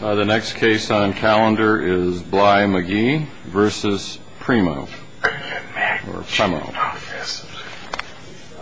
The next case on calendar is Bly-Magee v. Premo.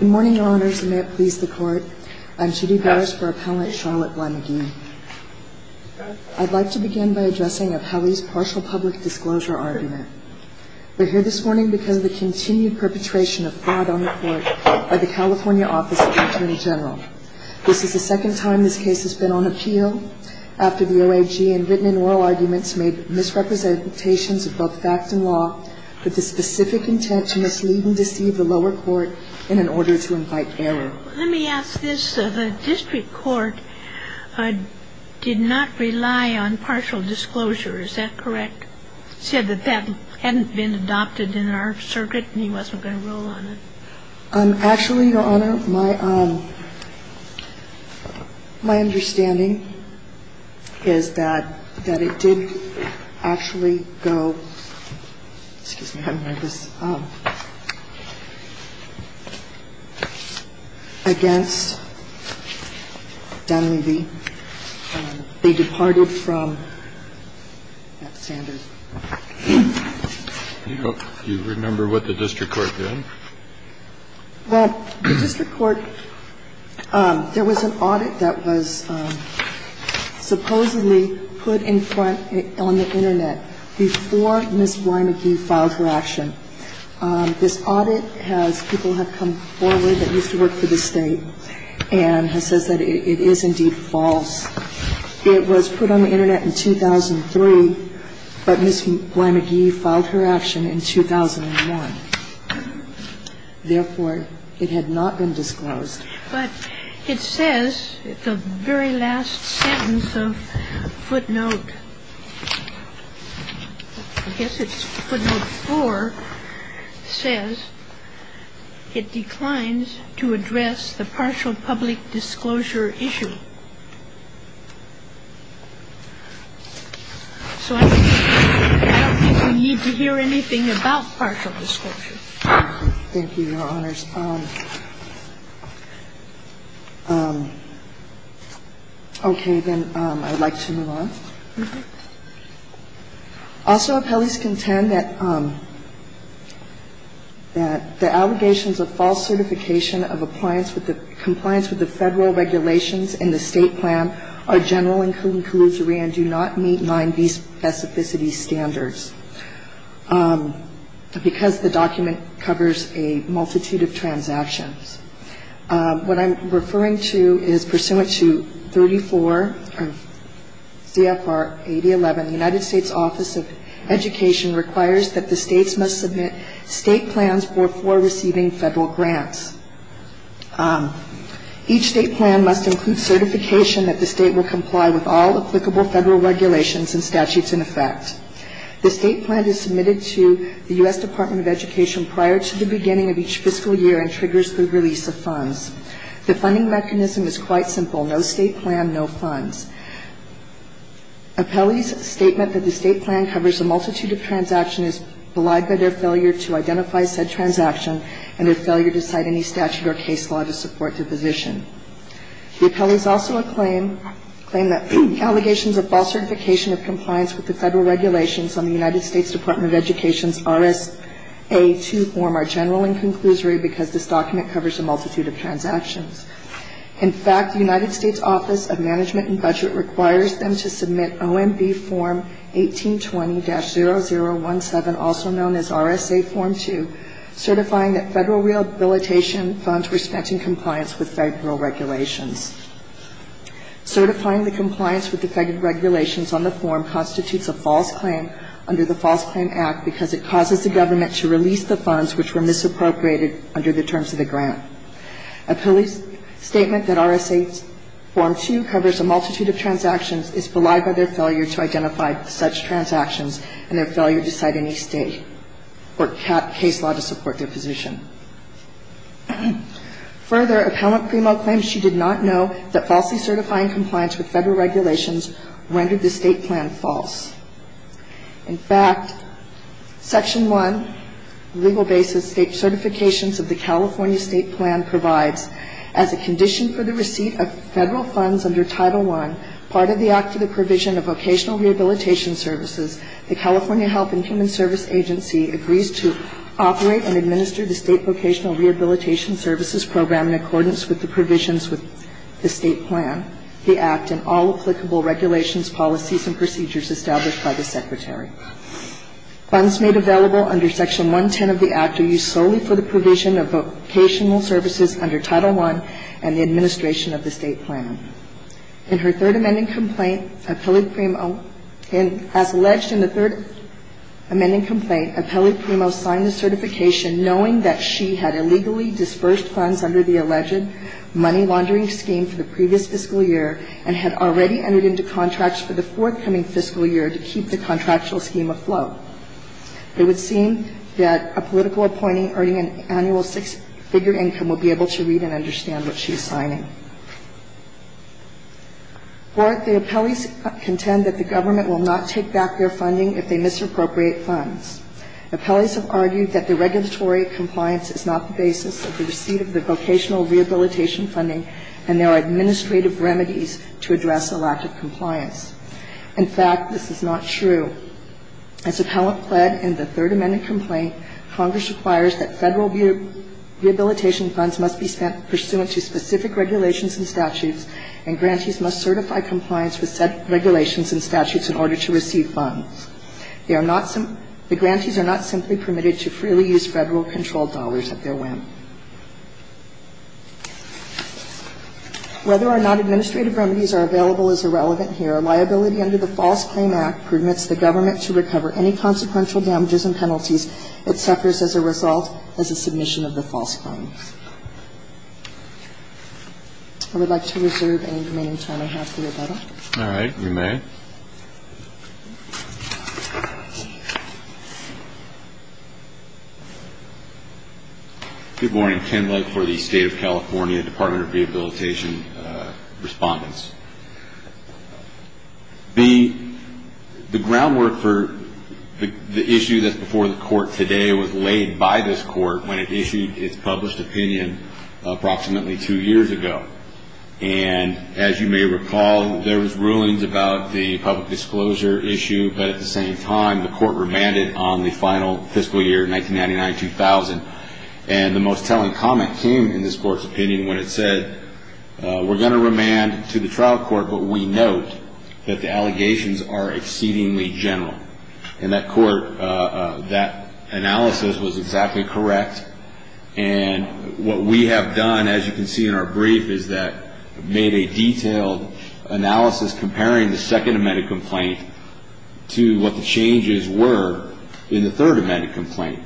Good morning, Your Honors, and may it please the Court. I'm Judy Barris for Appellant Charlotte Bly-Magee. I'd like to begin by addressing of Howie's partial public disclosure argument. We're here this morning because of the continued perpetration of fraud on the Court by the California Office of Attorney General. This is the second time this case has been on appeal after the OAG in written and oral arguments made misrepresentations of both fact and law with the specific intent to mislead and deceive the lower court in an order to invite error. Let me ask this. The district court did not rely on partial disclosure. Is that correct? It said that that hadn't been adopted in our circuit and he wasn't going to rule on it. Actually, Your Honor, my understanding is that it did actually go, excuse me, I'm nervous, against Dunleavy. They departed from Sanders. Do you remember what the district court did? Well, the district court, there was an audit that was supposedly put in front on the Internet before Ms. Bly-Magee filed her action. This audit has people have come forward that used to work for the State and has said that it is indeed false. It was put on the Internet in 2003, but Ms. Bly-Magee filed her action in 2001. Therefore, it had not been disclosed. But it says, the very last sentence of footnote, I guess it's footnote 4, says it declines to address the partial public disclosure issue. So I don't think we need to hear anything about partial disclosure. Thank you, Your Honors. Okay. Then I'd like to move on. Also, appellees contend that the allegations of false certification of compliance with the Federal regulations in the State plan are general and could be callusory and do not meet 9b specificity standards because the document covers a multitude of transactions. What I'm referring to is pursuant to 34 CFR 8011, the United States Office of Education requires that the States must submit State plans for receiving Federal grants. Each State plan must include certification that the State will comply with all applicable Federal regulations and statutes in effect. The State plan is submitted to the U.S. Department of Education prior to the beginning of each fiscal year and triggers the release of funds. The funding mechanism is quite simple, no State plan, no funds. Appellees' statement that the State plan covers a multitude of transactions is belied by their failure to identify said transaction and their failure to cite any statute or case law to support their position. The appellees also claim that allegations of false certification of compliance with the Federal regulations on the United States Department of Education's RSA 2 form are general and conclusory because this document covers a multitude of transactions. In fact, the United States Office of Management and Budget requires them to submit OMB Form 1820-0017, also known as RSA Form 2, certifying that Federal rehabilitation funds were spent in compliance with Federal regulations. Certifying the compliance with the Federal regulations on the form constitutes a false claim under the False Claim Act because it causes the government to release the funds which were misappropriated under the terms of the grant. Appellees' statement that RSA Form 2 covers a multitude of transactions is belied by their failure to identify such transactions and their failure to cite any state or case law to support their position. Further, Appellant Primo claims she did not know that falsely certifying compliance with Federal regulations rendered the state plan false. In fact, Section 1, Legal Basis, State Certifications of the California State Plan provides, as a condition for the receipt of Federal funds under Title I, part of the Act of the Provision of Vocational Rehabilitation Services, the California Health and Human Service Agency agrees to operate and administer the State Vocational Rehabilitation Services Program in accordance with the provisions with the State Plan, the Act, and all applicable regulations, policies, and procedures established by the Secretary. Funds made available under Section 110 of the Act are used solely for the provision of vocational services under Title I and the administration of the State Plan. In her third amending complaint, Appellant Primo, as alleged in the third amending complaint, Appellant Primo signed the certification knowing that she had illegally dispersed funds under the alleged money laundering scheme for the previous fiscal year and had already entered into contracts for the forthcoming fiscal year to keep the contractual scheme afloat. It would seem that a political appointee earning an annual six-figure income will be able to read and understand what she's signing. Fourth, the appellees contend that the government will not take back their funding if they misappropriate funds. Appellees have argued that the regulatory compliance is not the basis of the receipt of the vocational rehabilitation funding and there are administrative remedies to address a lack of compliance. In fact, this is not true. As Appellant Pled, in the third amending complaint, Congress requires that Federal rehabilitation funds must be spent pursuant to specific regulations and statutes and grantees must certify compliance with said regulations and statutes in order to receive funds. The grantees are not simply permitted to freely use Federal-controlled dollars at their whim. Whether or not administrative remedies are available is irrelevant here. Liability under the False Claim Act permits the government to recover any consequential damages and penalties that suffers as a result as a submission of the false claim. I would like to reserve any remaining time I have for rebuttal. All right. You may. Good morning. Ken Legge for the State of California Department of Rehabilitation Respondents. The groundwork for the issue that's before the Court today was laid by this Court when it issued its published opinion approximately two years ago. And as you may recall, there was rulings about the public disclosure issue, but at the same time, the Court remanded on the final fiscal year, 1999-2000, and the most telling comment came in this Court's opinion when it said, we're going to remand to the trial court, but we note that the allegations are exceedingly general. And that Court, that analysis was exactly correct. And what we have done, as you can see in our brief, is that made a detailed analysis comparing the second amended complaint to what the changes were in the third amended complaint.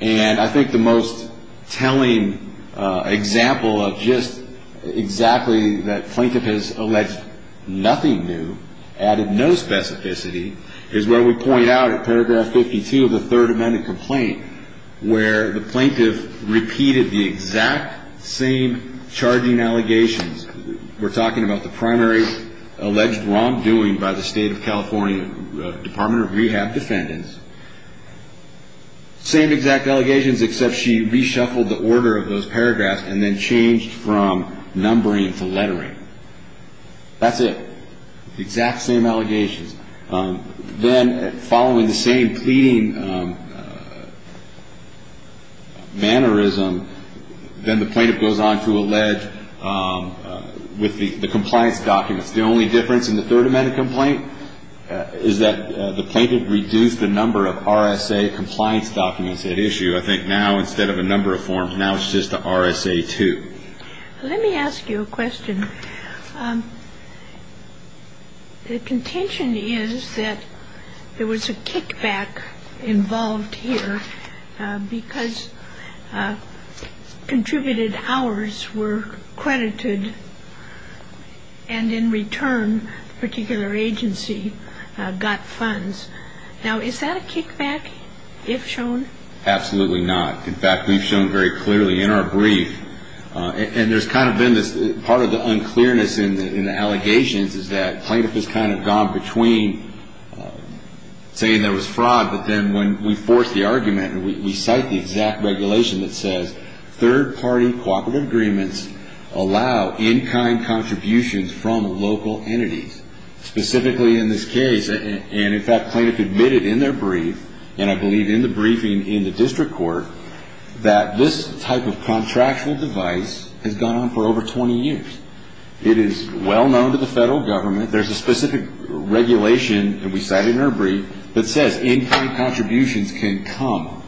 And I think the most telling example of just exactly that plaintiff has alleged nothing new, added no specificity, is where we point out at paragraph 52 of the third amended complaint, where the plaintiff repeated the exact same charging allegations. We're talking about the primary alleged wrongdoing by the State of Michigan. Same exact allegations, except she reshuffled the order of those paragraphs and then changed from numbering to lettering. That's it. The exact same allegations. Then following the same pleading mannerism, then the plaintiff goes on to allege with the compliance documents. The only difference in the third amended complaint is that the compliance documents had issue. I think now instead of a number of forms, now it's just the RSA 2. Let me ask you a question. The contention is that there was a kickback involved here because contributed hours were credited and in return a particular agency got funds. Now, is that a kickback, if shown? Absolutely not. In fact, we've shown very clearly in our brief, and there's kind of been this part of the unclearness in the allegations, is that plaintiff has kind of gone between saying there was fraud, but then when we force the argument and we cite the exact regulation that says third party cooperative agreements allow in-kind contributions from local entities. Specifically in this case, in our brief, and in fact plaintiff admitted in their brief, and I believe in the briefing in the district court, that this type of contractual device has gone on for over 20 years. It is well known to the federal government. There's a specific regulation that we cite in our brief that says in-kind contributions can come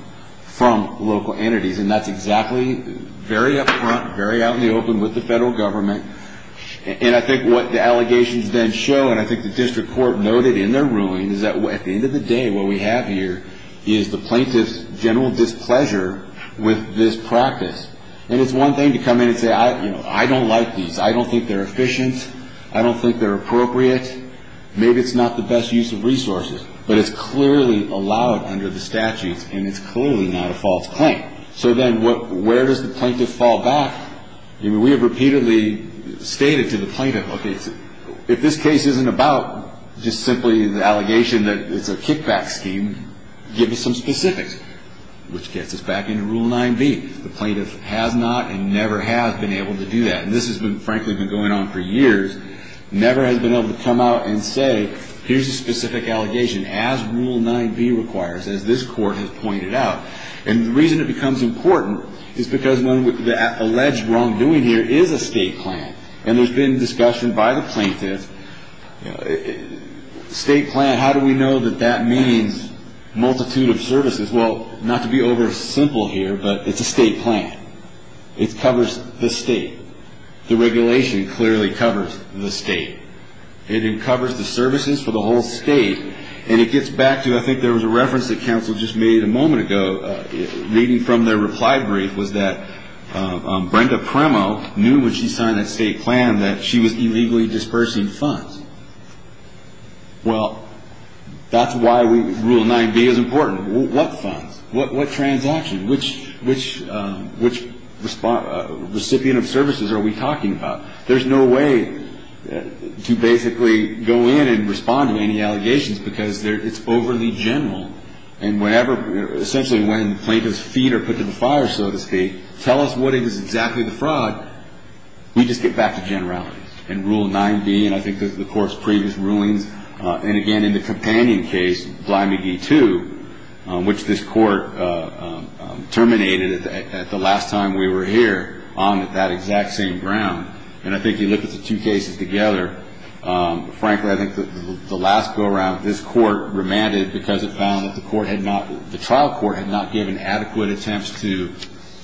from local entities, and that's exactly very up front, very out in the open with the federal government. And I think what the allegations then show, and I think the district court noted in their ruling, is that at the end of the day what we have here is the plaintiff's general displeasure with this practice. And it's one thing to come in and say, you know, I don't like these. I don't think they're efficient. I don't think they're appropriate. Maybe it's not the best use of resources. But it's clearly allowed under the statutes, and it's clearly not a false claim. So then where does the plaintiff fall back? We have repeatedly stated to the plaintiff, okay, if this case isn't about just simply the allegation that it's a kickback scheme, give me some specifics, which gets us back into Rule 9b. The plaintiff has not and never has been able to do that. And this has been, frankly, been going on for years, never has been able to come out and say, here's a specific allegation, as Rule 9b requires, as this court has recommended. And the reason it becomes important is because the alleged wrongdoing here is a state plan. And there's been discussion by the plaintiff, state plan, how do we know that that means multitude of services? Well, not to be over-simple here, but it's a state plan. It covers the state. The regulation clearly covers the state. It covers the services for the whole state. And it gets back to, I think there was a reference that counsel just made a moment ago, reading from their reply brief, was that Brenda Premo knew when she signed that state plan that she was illegally dispersing funds. Well, that's why Rule 9b is important. What funds? What transaction? Which recipient of services are we talking about? There's no way to basically go in and respond to any allegations, because it's overly general. And whenever, essentially when plaintiffs' feet are put to the fire, so to speak, tell us what is exactly the fraud, we just get back to generalities. And Rule 9b, and I think this is the Court's previous rulings, and again, in the companion case, Blimey v. 2, which this Court terminated at the last time we were here on that exact same ground, and I think you look at the two cases together, frankly, I think the last go-around, this Court remanded because it found that the Court had not given adequate attempts to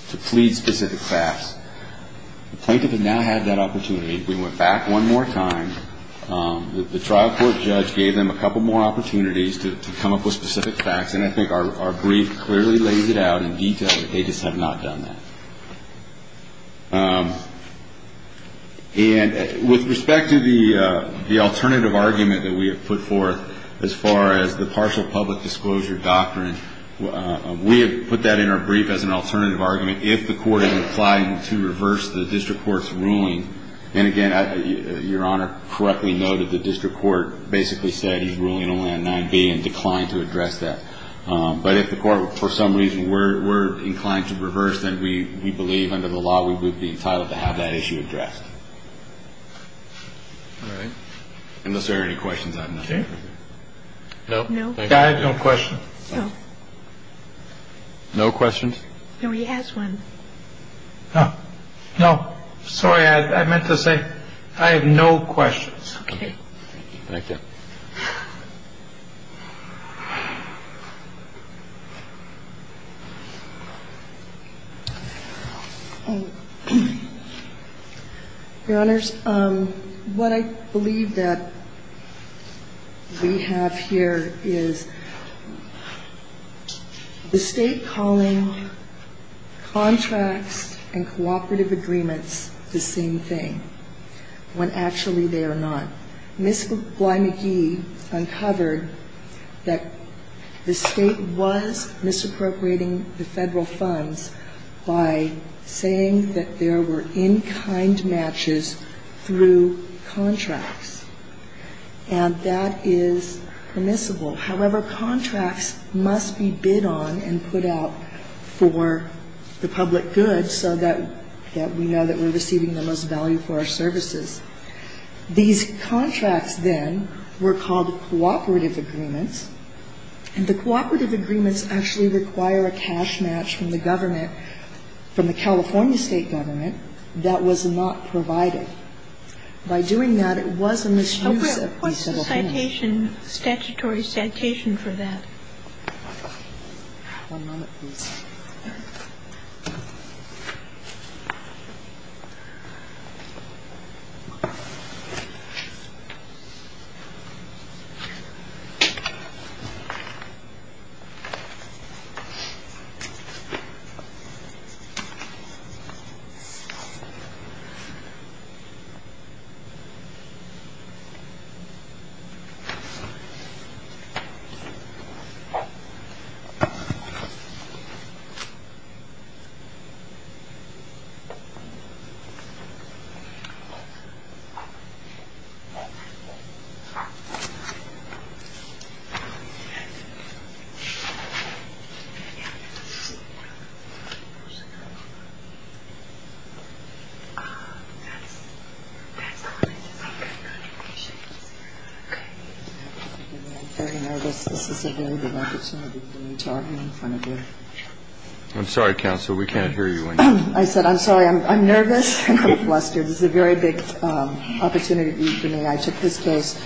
plead specific facts. The plaintiff had now had that opportunity. We went back one more time. The trial court judge gave them a couple more opportunities to come up with specific facts, and I think our brief clearly lays it out in detail that they just have not done that. And with respect to the alternative argument that we have put forth as far as the partial public disclosure doctrine, we have put that in our brief as an alternative argument. If the Court is inclined to reverse the district court's ruling, then again, Your Honor correctly noted the district court basically said he's ruling only on 9b and declined to address that. But if the Court for some reason were inclined to reverse, then we believe under the law we would be entitled to have that issue addressed. Thank you. All right. Unless there are any questions, I'm not sure. No, I have no questions. No questions. No, he has one. No, sorry, I meant to say I have no questions. Okay. Thank you. Your Honors, what I believe that we have here is the State calling contracts and contracts and cooperative agreements the same thing, when actually they are not. Ms. Bly-McGee uncovered that the State was misappropriating the Federal funds by saying that there were in-kind matches through contracts, and that is permissible. However, contracts must be bid on and put out for the public good so that when the State is bidding on a contract, the State is bidding on a contract. And the State is bidding on a contract that we know that we're receiving the most value for our services. These contracts, then, were called cooperative agreements, and the cooperative agreements actually require a cash match from the government, from the California State government, that was not provided. By doing that, it was a misuse of these Federal funds. What's the citation, statutory citation for that? Okay. I'm very nervous. This is a very big opportunity for me to argue in front of you. I'm sorry, Counsel. We can't hear you. I said I'm sorry. I'm nervous and I'm flustered. This is a very big opportunity for me. I took this case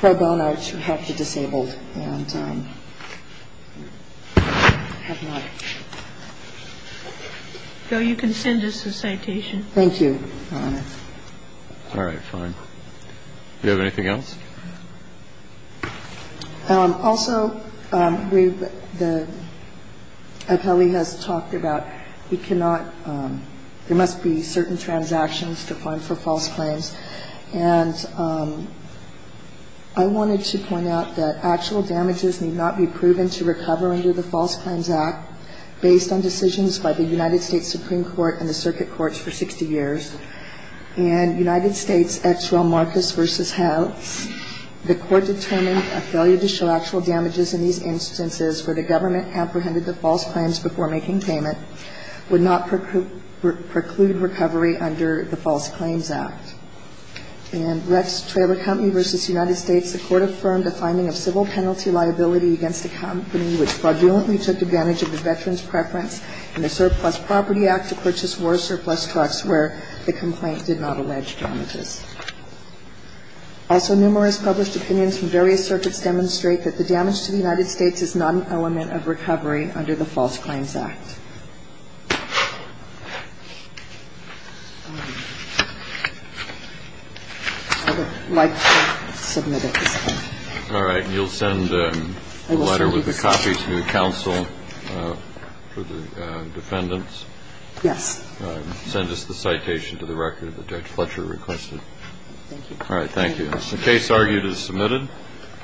pro bono to help the disabled, and I have not been able to do that. So you can send us a citation. Thank you, Your Honor. All right. Fine. Do you have anything else? Also, the appellee has talked about we cannot – there must be certain transactions to fund for false claims. And I wanted to point out that actual damages need not be determined by the United States Supreme Court and the circuit courts for 60 years. In United States, Ex Rel. Marcus v. House, the Court determined a failure to show actual damages in these instances where the government apprehended the false claims before making payment would not preclude recovery under the False Claims Act. In Rex Traber Company v. United States, the Court affirmed a finding of civil penalty liability against a company which fraudulently took advantage of the veterans' preference in the Surplus Property Act to purchase war surplus trucks where the complaint did not allege damages. Also, numerous published opinions from various circuits demonstrate that the damage to the United States is not an element of recovery under the False Claims Act. I would like to submit at this point. All right. You'll send a letter with a copy to the counsel for the defendants? Yes. Send us the citation to the record that Judge Fletcher requested. Thank you. All right. Thank you. The case argued is submitted.